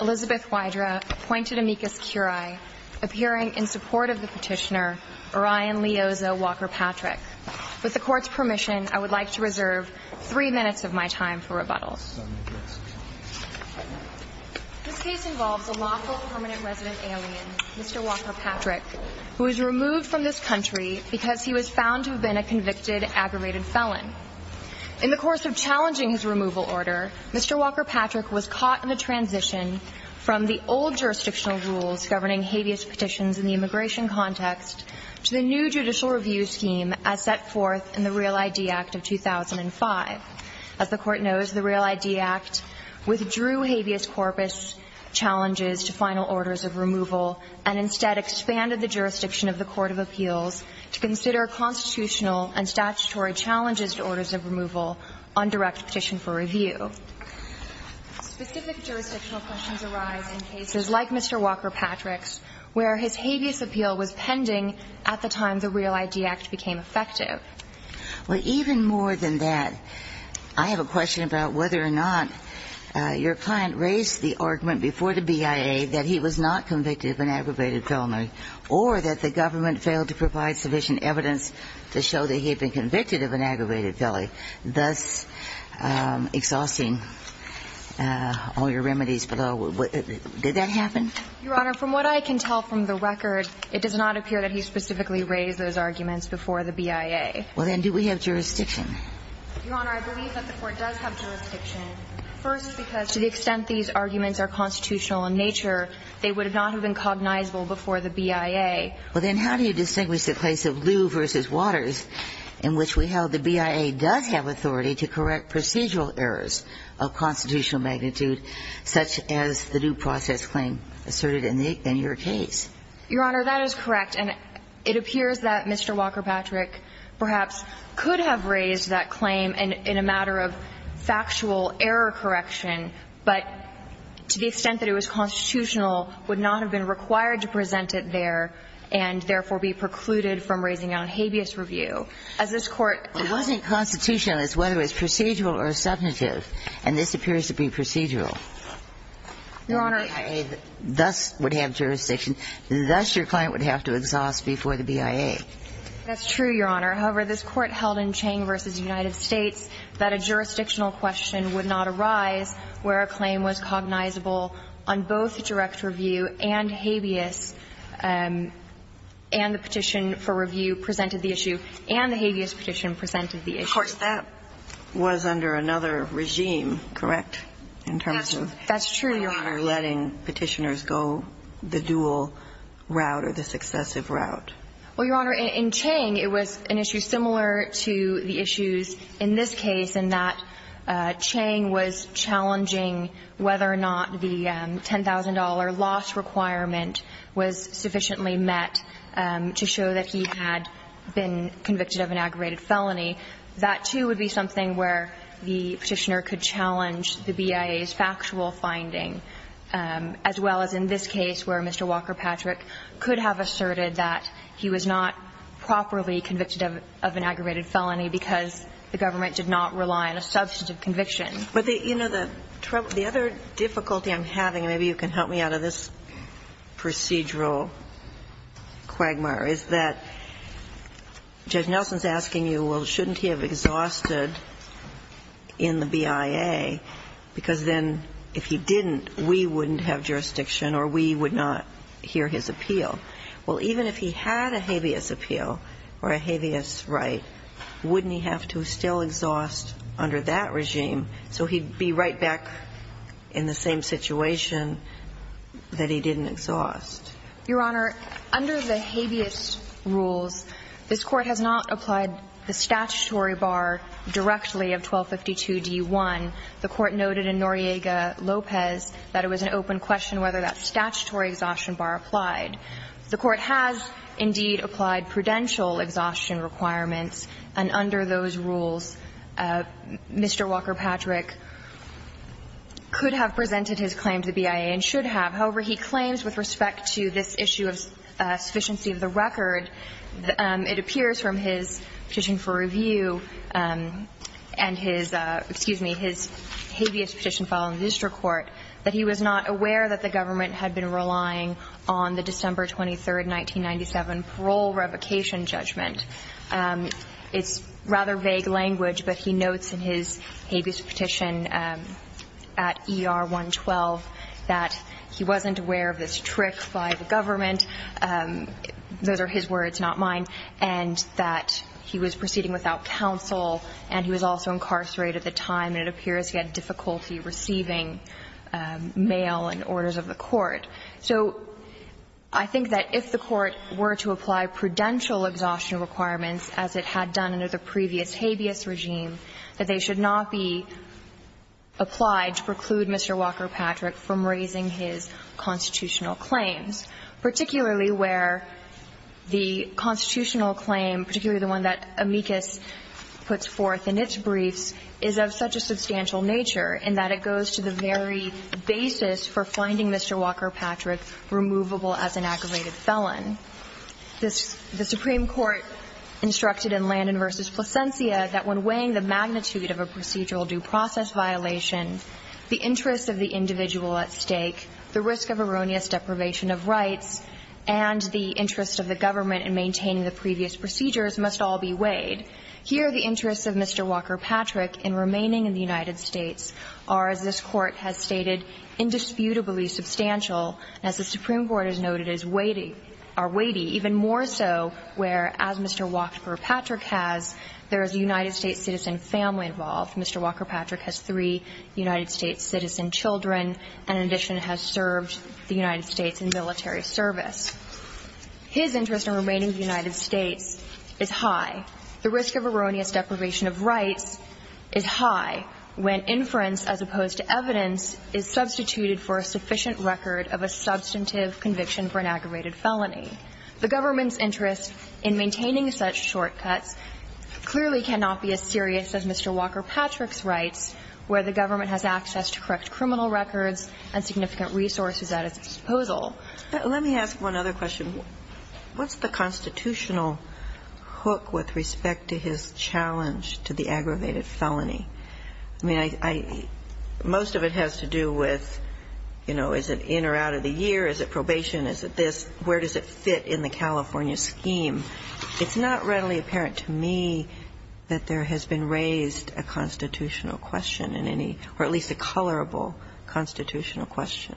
Elizabeth Wydra appointed amicus curiae, appearing in support of the petitioner, Orion Leoza Walker-Patrick. With the court's permission, I would like to reserve three minutes of my time for rebuttal. This case involves a lawful permanent resident alien, Mr. Walker-Patrick, who was removed from this country because he was found to have been a convicted, aggravated felon. In the course of challenging his removal order, Mr. Walker-Patrick was caught in the transition from the old jurisdictional rules governing habeas petitions in the immigration context to the new judicial review scheme as set forth in the Real ID Act of 2005. As the court knows, the Real ID Act withdrew habeas corpus challenges to final orders of removal and instead expanded the jurisdiction of the Court of Appeals to consider constitutional and statutory challenges to orders of removal on direct petition for review. Specific jurisdiction questions arise in cases like Mr. Walker-Patrick's, where his habeas appeal was pending at the time the Real ID Act became effective. Well, even more than that, I have a question about whether or not your client raised the argument before the BIA that he was not convicted of an aggravated felony or that the government failed to provide sufficient evidence to show that he had been convicted of an aggravated felony, thus exhausting all your remedies below. Did that happen? Your Honor, from what I can tell from the record, it does not appear that he specifically raised those arguments before the BIA. Well then, do we have jurisdiction? Your Honor, I believe that the court does have jurisdiction. First, because to the extent these arguments are constitutional in nature, they would not have been cognizable before the BIA. Well then, how do you distinguish the case of Lew v. Waters, in which we held the BIA does have authority to correct procedural errors of constitutional magnitude, such as the due process claim asserted in the – in your case? Your Honor, that is correct. And it appears that Mr. Walker-Patrick perhaps could have raised that claim in a matter of factual error correction, but to the extent that it was constitutional, would not have been required to present it there. And therefore, be precluded from raising it on habeas review. As this Court – Well, it wasn't constitutional as whether it was procedural or subjective. And this appears to be procedural. Your Honor – The BIA thus would have jurisdiction. Thus, your client would have to exhaust before the BIA. That's true, Your Honor. However, this Court held in Chang v. United States that a jurisdictional question would not arise where a claim was cognizable on both direct review and habeas, and the petition for review presented the issue, and the habeas petition presented the issue. Of course, that was under another regime, correct, in terms of – That's true, Your Honor. – letting Petitioners go the dual route or the successive route. Well, Your Honor, in Chang, it was an issue similar to the issues in this case in that the $10,000 loss requirement was sufficiently met to show that he had been convicted of an aggravated felony. That, too, would be something where the Petitioner could challenge the BIA's factual finding, as well as in this case where Mr. Walker-Patrick could have asserted that he was not properly convicted of an aggravated felony because the government did not rely on a substantive conviction. But, you know, the other difficulty I'm having, and maybe you can help me out of this procedural quagmire, is that Judge Nelson's asking you, well, shouldn't he have exhausted in the BIA, because then if he didn't, we wouldn't have jurisdiction or we would not hear his appeal. Well, even if he had a habeas appeal or a habeas right, wouldn't he have to still exhaust under that regime so he'd be right back in the same situation that he didn't exhaust? Your Honor, under the habeas rules, this Court has not applied the statutory bar directly of 1252d-1. The Court noted in Noriega-Lopez that it was an open question whether that statutory exhaustion bar applied. The Court has, indeed, applied prudential exhaustion requirements, and under those rules, Mr. Walker-Patrick could have presented his claim to the BIA and should have. However, he claims with respect to this issue of sufficiency of the record, it appears from his petition for review and his – excuse me, his habeas petition filed in the district court that he was not aware that the government had been relying on the December 23, 1997, parole revocation judgment. It's rather vague language, but he notes in his habeas petition at ER 112 that he wasn't aware of this trick by the government – those are his words, not mine – and that he was proceeding without counsel and he was also incarcerated at the time, and it appears he had difficulty receiving mail and orders of the court. So I think that if the Court were to apply prudential exhaustion requirements as it had done under the previous habeas regime, that they should not be applied to preclude Mr. Walker-Patrick from raising his constitutional claims, particularly where the constitutional claim, particularly the one that amicus puts forth in its briefs, is of such a substantial nature in that it goes to the very basis for finding Mr. Walker-Patrick removable as an aggravated felon. The Supreme Court instructed in Landon v. Plasencia that when weighing the magnitude of a procedural due process violation, the interests of the individual at stake, the risk of erroneous deprivation of rights, and the interests of the government in maintaining the previous procedures must all be weighed. Here, the interests of Mr. Walker-Patrick in remaining in the United States are, as this Court has stated, indisputably substantial, as the Supreme Court has noted, is weighty, or weighty even more so where, as Mr. Walker-Patrick has, there is a United States citizen family involved. Mr. Walker-Patrick has three United States citizen children, and in addition has served the United States in military service. His interest in remaining in the United States is high. The risk of erroneous deprivation of rights is high when inference as opposed to evidence is substituted for a sufficient record of a substantive conviction for an aggravated felony. The government's interest in maintaining such shortcuts clearly cannot be as serious as Mr. Walker-Patrick's rights, where the government has access to correct criminal records and significant resources at its disposal. Let me ask one other question. What's the constitutional hook with respect to his challenge to the aggravated felony? I mean, I — most of it has to do with, you know, is it in or out of the year? Is it probation? Is it this? Where does it fit in the California scheme? It's not readily apparent to me that there has been raised a constitutional question in any — or at least a colorable constitutional question.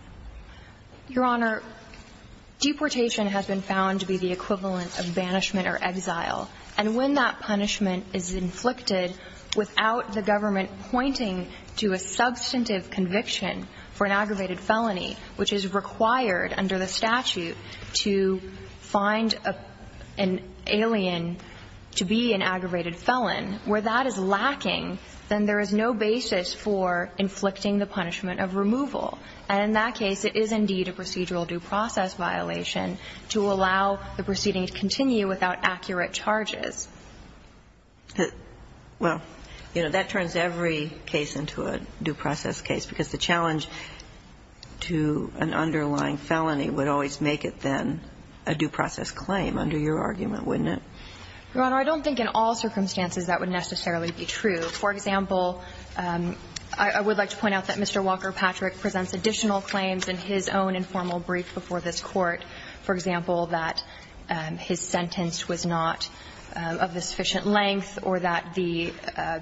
Your Honor, deportation has been found to be the equivalent of banishment or exile. And when that punishment is inflicted without the government pointing to a substantive conviction for an aggravated felony, which is required under the statute to find an alien to be an aggravated felon, where that is lacking, then there is no basis for inflicting the punishment of removal. And in that case, it is indeed a procedural due process violation to allow the proceeding to continue without accurate charges. Well, you know, that turns every case into a due process case, because the challenge to an underlying felony would always make it then a due process claim under your argument, wouldn't it? Your Honor, I don't think in all circumstances that would necessarily be true. For example, I would like to point out that Mr. Walker-Patrick presents additional claims in his own informal brief before this Court, for example, that his sentence was not of the sufficient length or that the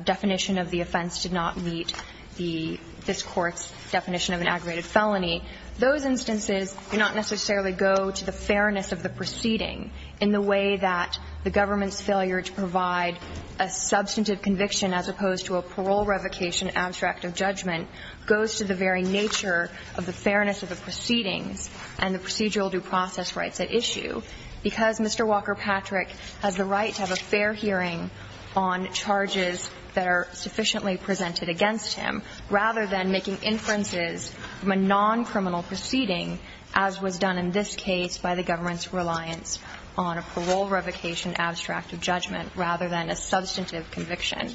definition of the offense did not meet the — this Court's definition of an aggravated felony. Those instances do not necessarily go to the fairness of the proceeding in the way that the government's failure to provide a substantive conviction as opposed to a parole revocation abstract of judgment goes to the very nature of the fairness of the proceedings and the procedural due process rights at issue, because Mr. Walker-Patrick has the right to have a fair hearing on charges that are sufficiently presented against him, rather than making inferences from a non-criminal proceeding, as was done in this case by the government's reliance on a parole revocation abstract of judgment, rather than a substantive conviction.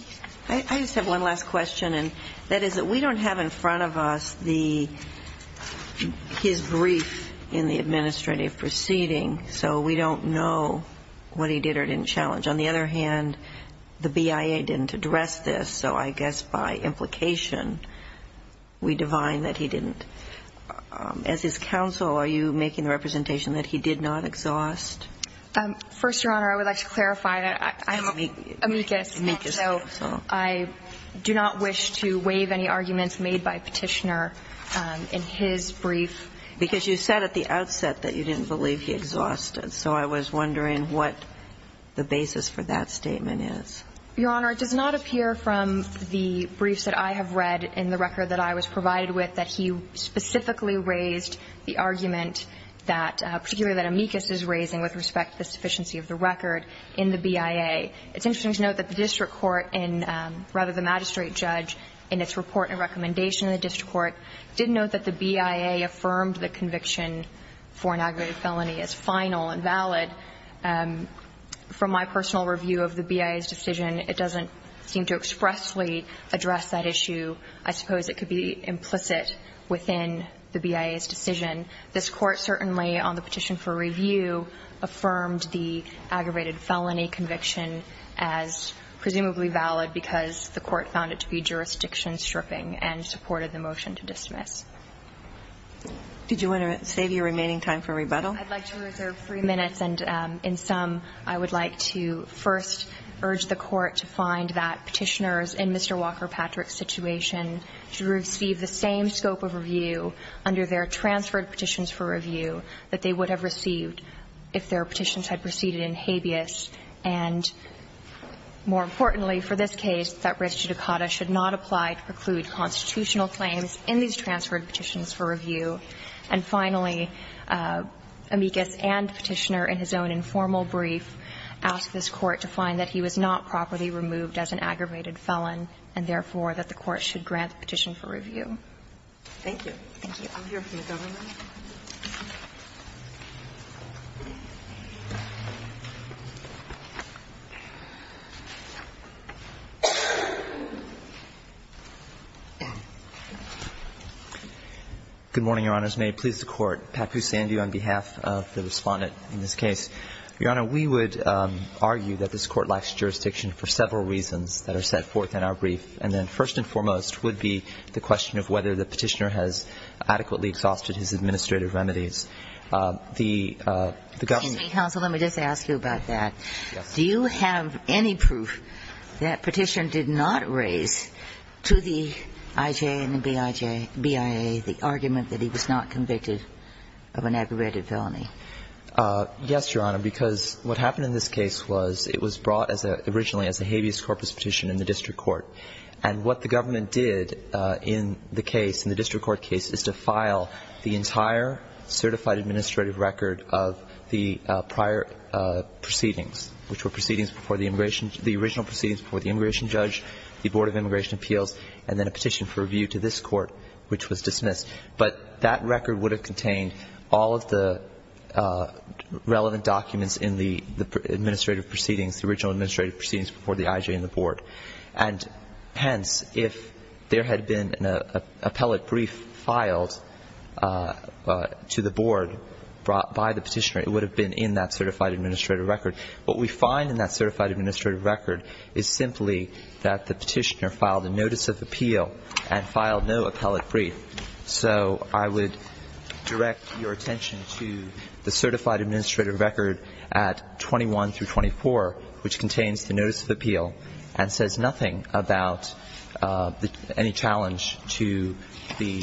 I just have one last question, and that is that we don't have in front of us the — his brief in the administrative proceeding, so we don't know what he did or didn't challenge. On the other hand, the BIA didn't address this, so I guess by implication we can assume that he didn't. As his counsel, are you making the representation that he did not exhaust? First, Your Honor, I would like to clarify that I am amicus. Amicus. So I do not wish to waive any arguments made by Petitioner in his brief. Because you said at the outset that you didn't believe he exhausted. So I was wondering what the basis for that statement is. Your Honor, it does not appear from the briefs that I have read in the record that I was provided with that he specifically raised the argument that — particularly that amicus is raising with respect to the sufficiency of the record in the BIA. It's interesting to note that the district court in — rather, the magistrate judge, in its report and recommendation in the district court, did note that the BIA affirmed the conviction for an aggravated felony as final and valid. From my personal review of the BIA's decision, it doesn't seem to expressly address that issue. I suppose it could be implicit within the BIA's decision. This Court certainly, on the petition for review, affirmed the aggravated felony conviction as presumably valid because the Court found it to be jurisdiction stripping and supported the motion to dismiss. Did you want to save your remaining time for rebuttal? I'd like to reserve three minutes. And in sum, I would like to first urge the Court to find that Petitioner's position in Mr. Walker-Patrick's situation should receive the same scope of review under their transferred petitions for review that they would have received if their petitions had proceeded in habeas and, more importantly for this case, that res judicata should not apply to preclude constitutional claims in these transferred petitions for review. And finally, amicus and Petitioner in his own informal brief asked this Court to find that he was not properly removed as an aggravated felon and, therefore, that the Court should grant the petition for review. Thank you. Thank you. I'll hear from the government. Good morning, Your Honors. May it please the Court. Pat Busandi on behalf of the Respondent in this case. Your Honor, we would argue that this Court lacks jurisdiction for several reasons that are set forth in our brief. And then first and foremost would be the question of whether the Petitioner has adequately exhausted his administrative remedies. The government Can you speak, counsel? Let me just ask you about that. Yes. Do you have any proof that Petitioner did not raise to the IJ and the BIA the argument that he was not convicted of an aggravated felony? Yes, Your Honor, because what happened in this case was it was brought as a originally as a habeas corpus petition in the district court. And what the government did in the case, in the district court case, is to file the entire certified administrative record of the prior proceedings, which were proceedings before the immigration, the original proceedings before the immigration judge, the Board of Immigration Appeals, and then a petition for review to this court, which was dismissed. But that record would have contained all of the relevant documents in the administrative proceedings, the original administrative proceedings before the IJ and the Board. And hence, if there had been an appellate brief filed to the Board brought by the Petitioner, it would have been in that certified administrative record. What we find in that certified administrative record is simply that the Petitioner filed a notice of appeal and filed no appellate brief. So I would direct your attention to the certified administrative record at 21 through 24, which contains the notice of appeal and says nothing about any challenge to the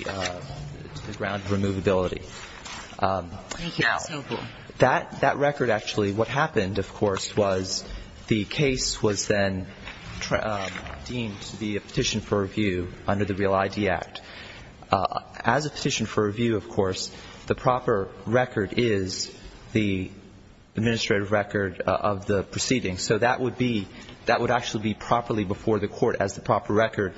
ground of removability. Thank you, counsel. Now, that record actually, what happened, of course, was the case was then deemed to be a petition for review under the Real ID Act. As a petition for review, of course, the proper record is the administrative record of the proceedings. So that would be, that would actually be properly before the court as the proper record.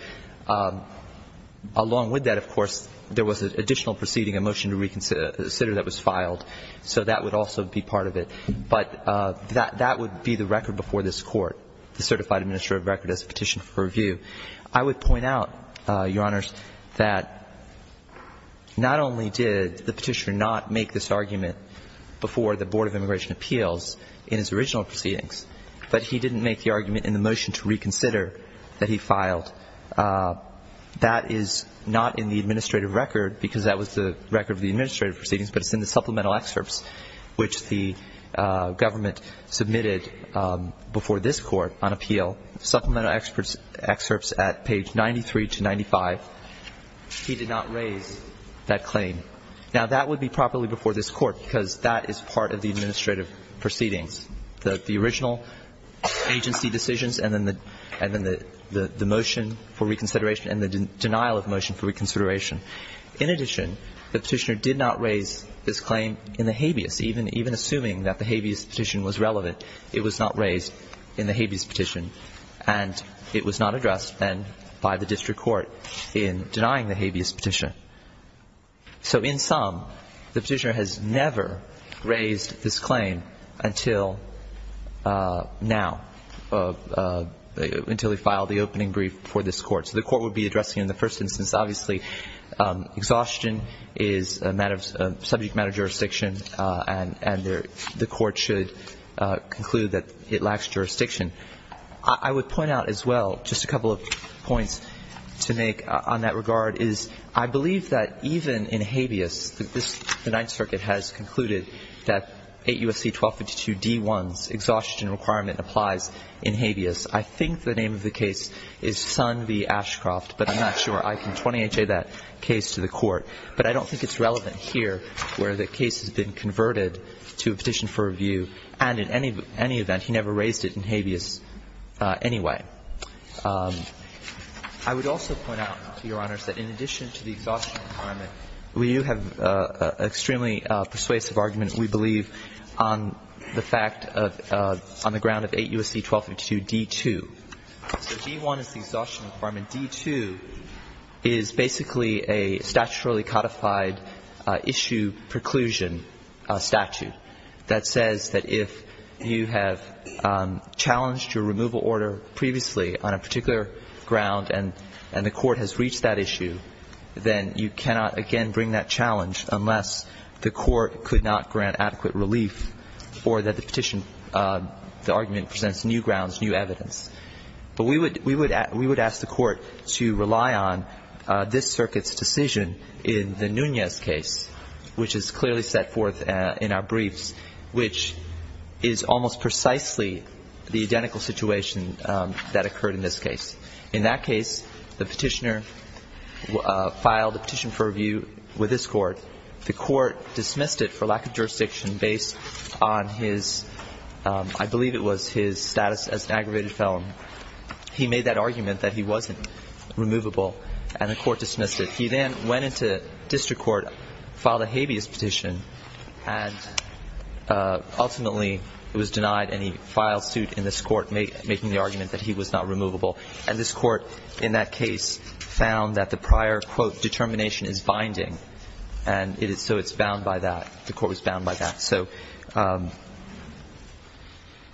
Along with that, of course, there was an additional proceeding, a motion to reconsider that was filed. So that would also be part of it. But that would be the record before this court, the certified administrative record as a petition for review. I would point out, Your Honors, that not only did the Petitioner not make this argument before the Board of Immigration Appeals in his original proceedings, but he didn't make the argument in the motion to reconsider that he filed. That is not in the administrative record because that was the record of the administrative proceedings, but it's in the supplemental excerpts which the government submitted before this court on appeal. Supplemental excerpts at page 93 to 95, he did not raise that claim. Now, that would be properly before this court because that is part of the administrative proceedings, the original agency decisions and then the motion for reconsideration and the denial of motion for reconsideration. In addition, the Petitioner did not raise this claim in the habeas, even assuming that the habeas petition was relevant. It was not raised in the habeas petition and it was not addressed then by the district court in denying the habeas petition. So in sum, the Petitioner has never raised this claim until now, until he filed the opening brief for this court. So the court would be addressing it in the first instance. Obviously, exhaustion is a subject matter of jurisdiction and the court should not conclude that it lacks jurisdiction. I would point out as well just a couple of points to make on that regard is I believe that even in habeas, the Ninth Circuit has concluded that 8 U.S.C. 1252 D.1's exhaustion requirement applies in habeas. I think the name of the case is Son v. Ashcroft, but I'm not sure I can 20HA that case to the court. But I don't think it's relevant here where the case has been converted to a petition for review, and in any event, he never raised it in habeas anyway. I would also point out, Your Honors, that in addition to the exhaustion requirement, we do have an extremely persuasive argument, we believe, on the fact of, on the ground of 8 U.S.C. 1252 D.2. So D.1 is the exhaustion requirement. D.2 is basically a statutorily codified issue preclusion statute. That says that if you have challenged your removal order previously on a particular ground and the court has reached that issue, then you cannot again bring that challenge unless the court could not grant adequate relief or that the petition, the argument presents new grounds, new evidence. But we would ask the court to rely on this circuit's decision in the Nunez case, which is clearly set forth in our briefs, which is almost precisely the identical situation that occurred in this case. In that case, the petitioner filed a petition for review with this court. The court dismissed it for lack of jurisdiction based on his, I believe it was his status as an aggravated felon. He made that argument that he wasn't removable, and the court dismissed it. He then went into district court, filed a habeas petition, and ultimately it was denied any file suit in this court making the argument that he was not removable. And this court in that case found that the prior, quote, determination is binding. And so it's bound by that. The court was bound by that. So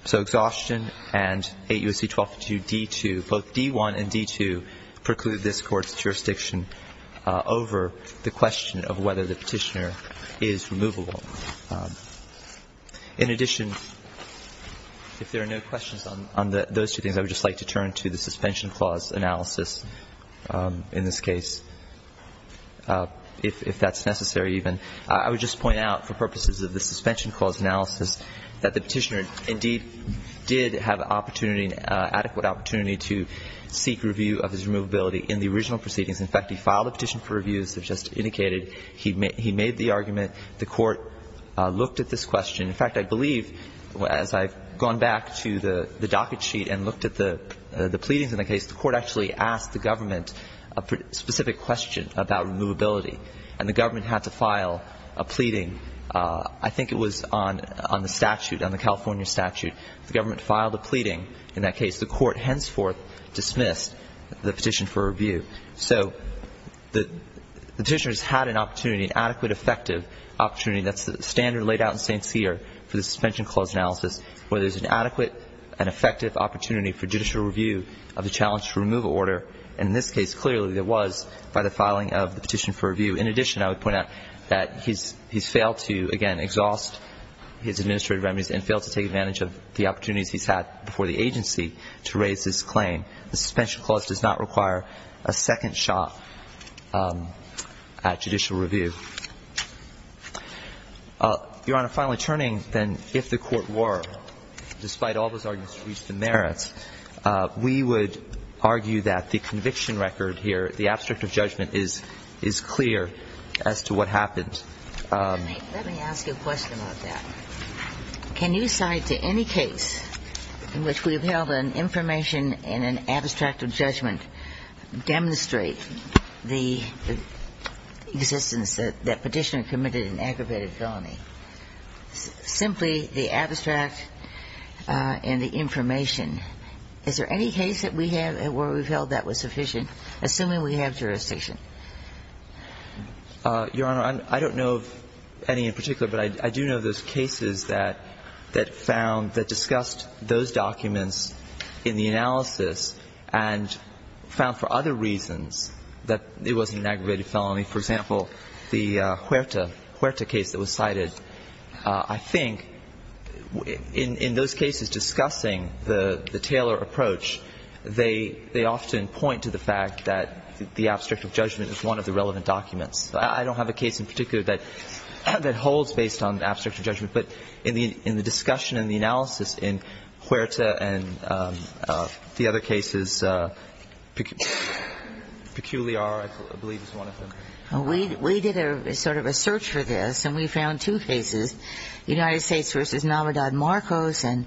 exhaustion and 8 U.S.C. 1252 D.2, both D.1 and D.2 preclude this court's jurisdiction over the question of whether the petitioner is removable. In addition, if there are no questions on those two things, I would just like to turn to the suspension clause analysis in this case, if that's necessary even. I would just point out for purposes of the suspension clause analysis that the petitioner indeed did have an opportunity, an adequate opportunity to seek review of his removability in the original proceedings. In fact, he filed a petition for review, as I've just indicated. He made the argument. The court looked at this question. In fact, I believe, as I've gone back to the docket sheet and looked at the pleadings in the case, the court actually asked the government a specific question about removability. And the government had to file a pleading. I think it was on the statute, on the California statute. The government filed a pleading in that case. The court henceforth dismissed the petition for review. So the petitioner has had an opportunity, an adequate, effective opportunity. That's the standard laid out in St. Cyr for the suspension clause analysis, where there's an adequate and effective opportunity for judicial review of the challenge to remove an order. And in this case, clearly, there was by the filing of the petition for review. In addition, I would point out that he's failed to, again, exhaust his administrative remedies and failed to take advantage of the opportunities he's had before the agency to raise his claim. The suspension clause does not require a second shot at judicial review. Your Honor, finally turning, then, if the court were, despite all those arguments to reach the merits, we would argue that the conviction record here, the abstract of judgment, is clear as to what happened. Let me ask you a question about that. Can you cite to any case in which we've held an information and an abstract of judgment demonstrate the existence that petitioner committed an aggravated felony? Simply the abstract and the information. Is there any case that we have where we've held that was sufficient, assuming we have jurisdiction? Your Honor, I don't know of any in particular, but I do know of those cases that found, that discussed those documents in the analysis and found for other reasons that it wasn't an aggravated felony. For example, the Huerta case that was cited. I think in those cases discussing the Taylor approach, they often point to the fact that the abstract of judgment is one of the relevant documents. I don't have a case in particular that holds based on the abstract of judgment. But in the discussion and the analysis in Huerta and the other cases, Peculiar, I believe, is one of them. We did sort of a search for this, and we found two cases, United States v. Navidad Marcos and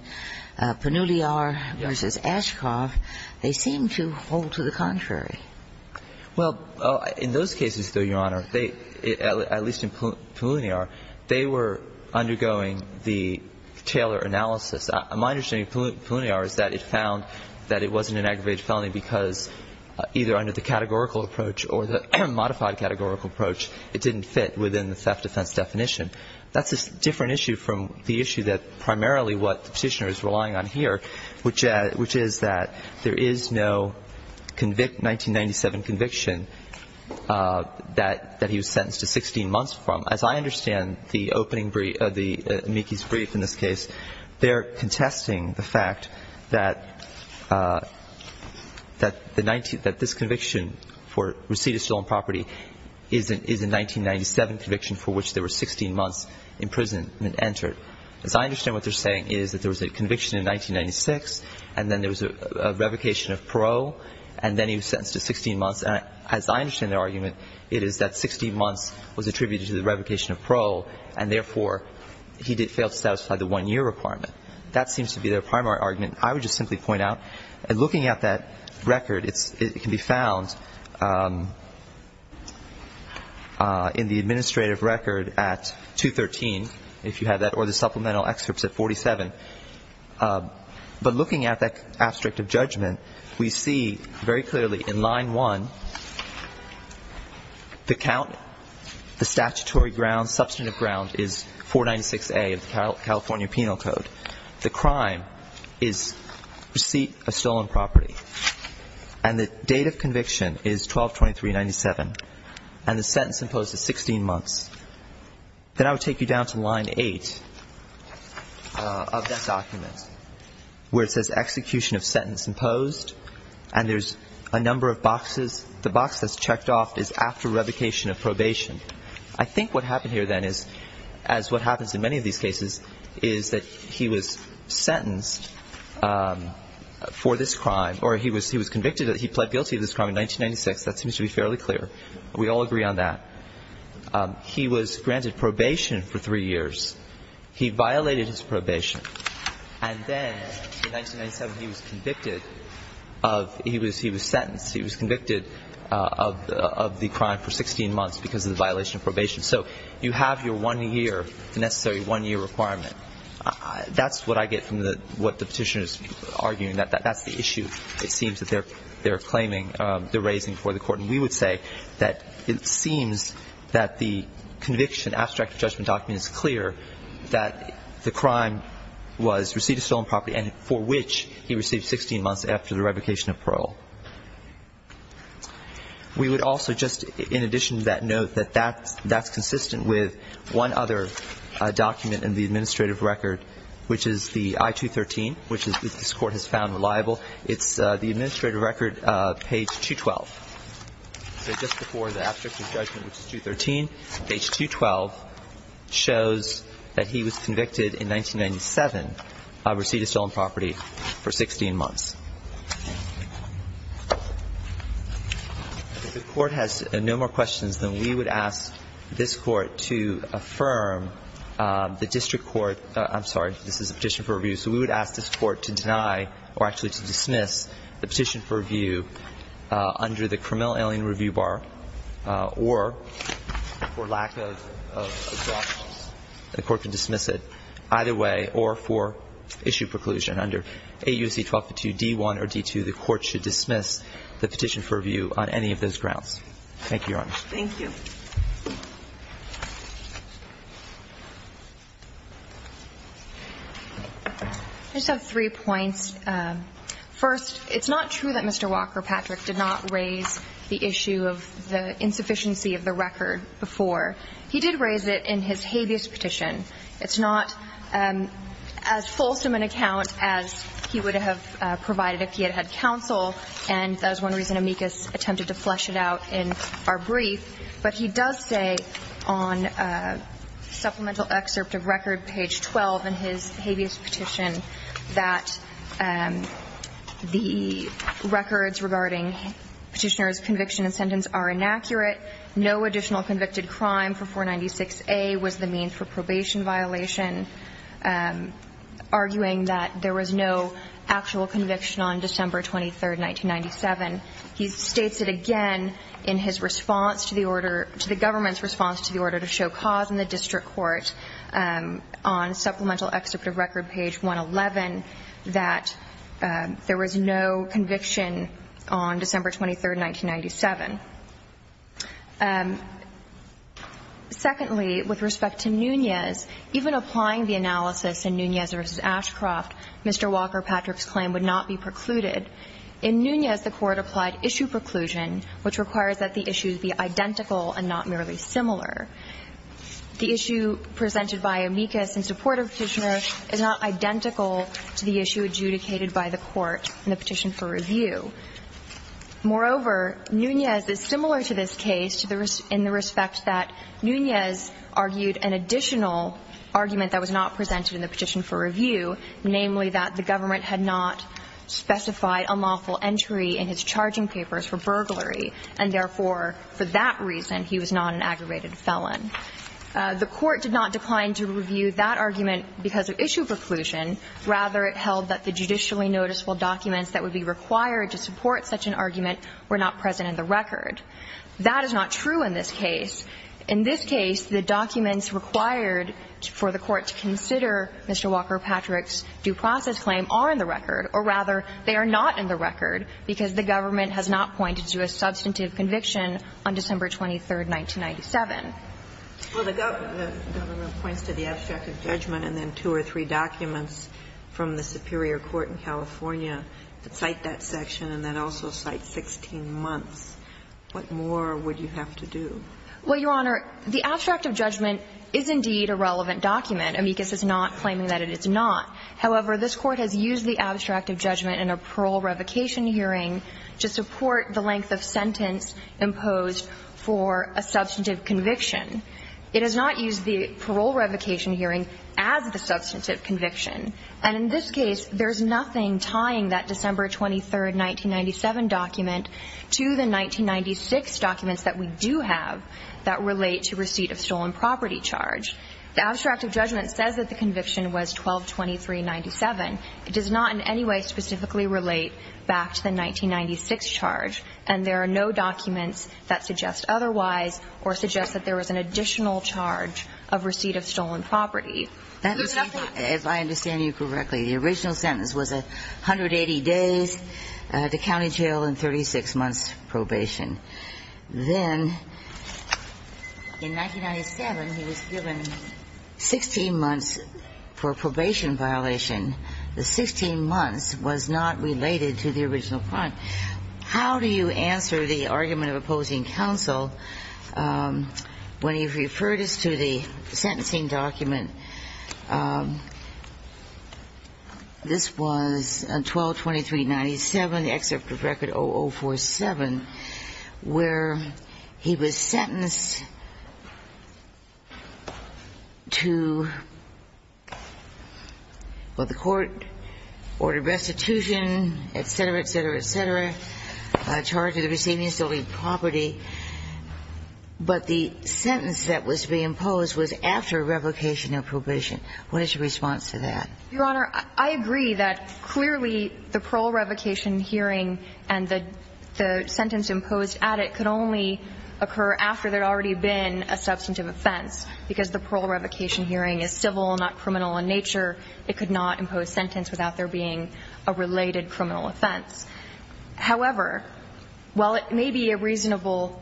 Peculiar v. Ashcroft. They seem to hold to the contrary. Well, in those cases, though, Your Honor, at least in Peculiar, they were undergoing the Taylor analysis. My understanding of Peculiar is that it found that it wasn't an aggravated felony because either under the categorical approach or the modified categorical approach, it didn't fit within the theft defense definition. That's a different issue from the issue that primarily what the Petitioner is saying is that there was a 1997 conviction that he was sentenced to 16 months from. As I understand the opening brief, the amicus brief in this case, they are contesting the fact that this conviction for receipt of stolen property is a 1997 conviction for which there were 16 months imprisonment entered. As I understand what they're saying is that there was a conviction in 1996, and then there was a revocation of parole, and then he was sentenced to 16 months. As I understand their argument, it is that 16 months was attributed to the revocation of parole, and therefore, he did fail to satisfy the one-year requirement. That seems to be their primary argument. I would just simply point out, looking at that record, it can be found in the administrative record at 213, if you have that, or the supplemental excerpts at 47. But looking at that abstract of judgment, we see very clearly in line 1, the count, the statutory ground, substantive ground is 496A of the California Penal Code. The crime is receipt of stolen property. And the date of conviction is 12-23-97. And the sentence imposed is 16 months. Then I would take you down to line 8 of that document, where it says execution of sentence imposed, and there's a number of boxes. The box that's checked off is after revocation of probation. I think what happened here then is, as what happens in many of these cases, is that he was sentenced for this crime, or he was convicted, he pled guilty to this crime in 1996. That seems to be fairly clear. We all agree on that. He was granted probation for three years. He violated his probation. And then in 1997, he was convicted of he was sentenced. He was convicted of the crime for 16 months because of the violation of probation. So you have your one year, the necessary one year requirement. That's what I get from what the Petitioner is arguing. That's the issue, it seems, that they're claiming, they're raising for the court. And we would say that it seems that the conviction, abstract judgment document, is clear that the crime was receipt of stolen property and for which he received 16 months after the revocation of parole. We would also just, in addition to that note, that that's consistent with one other document in the administrative record, which is the I-213, which this court has found reliable. It's the administrative record, page 212. So just before the abstracted judgment, which is 213, page 212 shows that he was convicted in 1997 of receipt of stolen property for 16 months. If the court has no more questions, then we would ask this court to affirm the district court, I'm sorry, this is a petition for review. So we would ask this court to deny or actually to dismiss the petition for review under the Cremelle Alien Review Bar or, for lack of objections, the court can dismiss it either way or for issue preclusion under AUC 1252 D1 or D2, the court should dismiss the petition for review on any of those grounds. Thank you, Your Honor. Thank you. I just have three points. First, it's not true that Mr. Walker-Patrick did not raise the issue of the insufficiency of the record before. He did raise it in his habeas petition. It's not as fulsome an account as he would have provided if he had had counsel, and that was one reason amicus attempted to flesh it out in our brief. But he does say on supplemental excerpt of record, page 12 in his habeas petition, that the records regarding petitioner's conviction and sentence are inaccurate. No additional convicted crime for 496A was the mean for probation violation, arguing that there was no actual conviction on December 23, 1997. He states it again in his response to the order, to the government's response to the order to show cause in the district court on supplemental excerpt of record, page 111, that there was no conviction on December 23, 1997. Secondly, with respect to Nunez, even applying the analysis in Nunez v. Ashcroft Mr. Walker-Patrick's claim would not be precluded. In Nunez, the Court applied issue preclusion, which requires that the issues be identical and not merely similar. The issue presented by amicus in support of petitioner is not identical to the issue adjudicated by the Court in the petition for review. Moreover, Nunez is similar to this case in the respect that Nunez argued an additional argument that was not presented in the petition for review, namely that the government had not specified unlawful entry in his charging papers for burglary, and therefore, for that reason, he was not an aggravated felon. The Court did not decline to review that argument because of issue preclusion. Rather, it held that the judicially noticeable documents that would be required to support such an argument were not present in the record. That is not true in this case. In this case, the documents required for the Court to consider Mr. Walker-Patrick's due process claim are in the record, or rather, they are not in the record because the government has not pointed to a substantive conviction on December 23, 1997. Well, the government points to the abstract of judgment and then two or three documents from the superior court in California that cite that section and then also cite 16 months. What more would you have to do? Well, Your Honor, the abstract of judgment is indeed a relevant document. Amicus is not claiming that it is not. However, this Court has used the abstract of judgment in a parole revocation hearing to support the length of sentence imposed for a substantive conviction. It has not used the parole revocation hearing as the substantive conviction. And in this case, there is nothing tying that December 23, 1997 document to the 1996 documents that we do have that relate to receipt of stolen property charge. The abstract of judgment says that the conviction was 12-23-97. It does not in any way specifically relate back to the 1996 charge, and there are no documents that suggest otherwise or suggest that there was an additional charge of receipt of stolen property. If I understand you correctly, the original sentence was 180 days to county jail and 36 months probation. Then, in 1997, he was given 16 months for a probation violation. The 16 months was not related to the original crime. How do you answer the argument of opposing counsel when you refer this to the sentencing document? This was 12-23-97, the excerpt of Record 0047, where he was sentenced to, well, the court ordered restitution, et cetera, et cetera, et cetera, charged with receiving stolen property. But the sentence that was to be imposed was after revocation of probation. What is your response to that? Your Honor, I agree that clearly the parole revocation hearing and the sentence imposed at it could only occur after there had already been a substantive offense, because the parole revocation hearing is civil, not criminal in nature. It could not impose sentence without there being a related criminal offense. However, while it may be a reasonable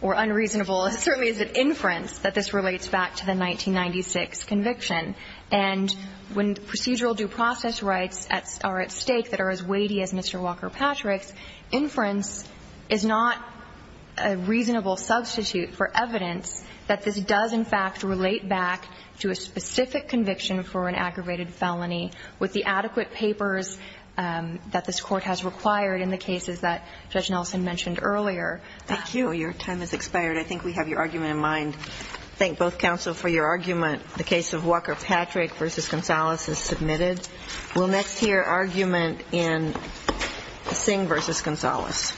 or unreasonable inference that this relates back to the 1996 conviction, and when procedural due process rights are at stake that are as weighty as Mr. Walker Patrick's, inference is not a reasonable substitute for evidence that this does, in fact, relate back to a specific conviction for an aggravated felony with the adequate papers that this court has required in the cases that Judge Nelson mentioned earlier. Thank you. Your time has expired. I think we have your argument in mind. Thank both counsel for your argument. The case of Walker Patrick v. Gonzalez is submitted. We'll next hear argument in Singh v. Gonzalez. Thank you.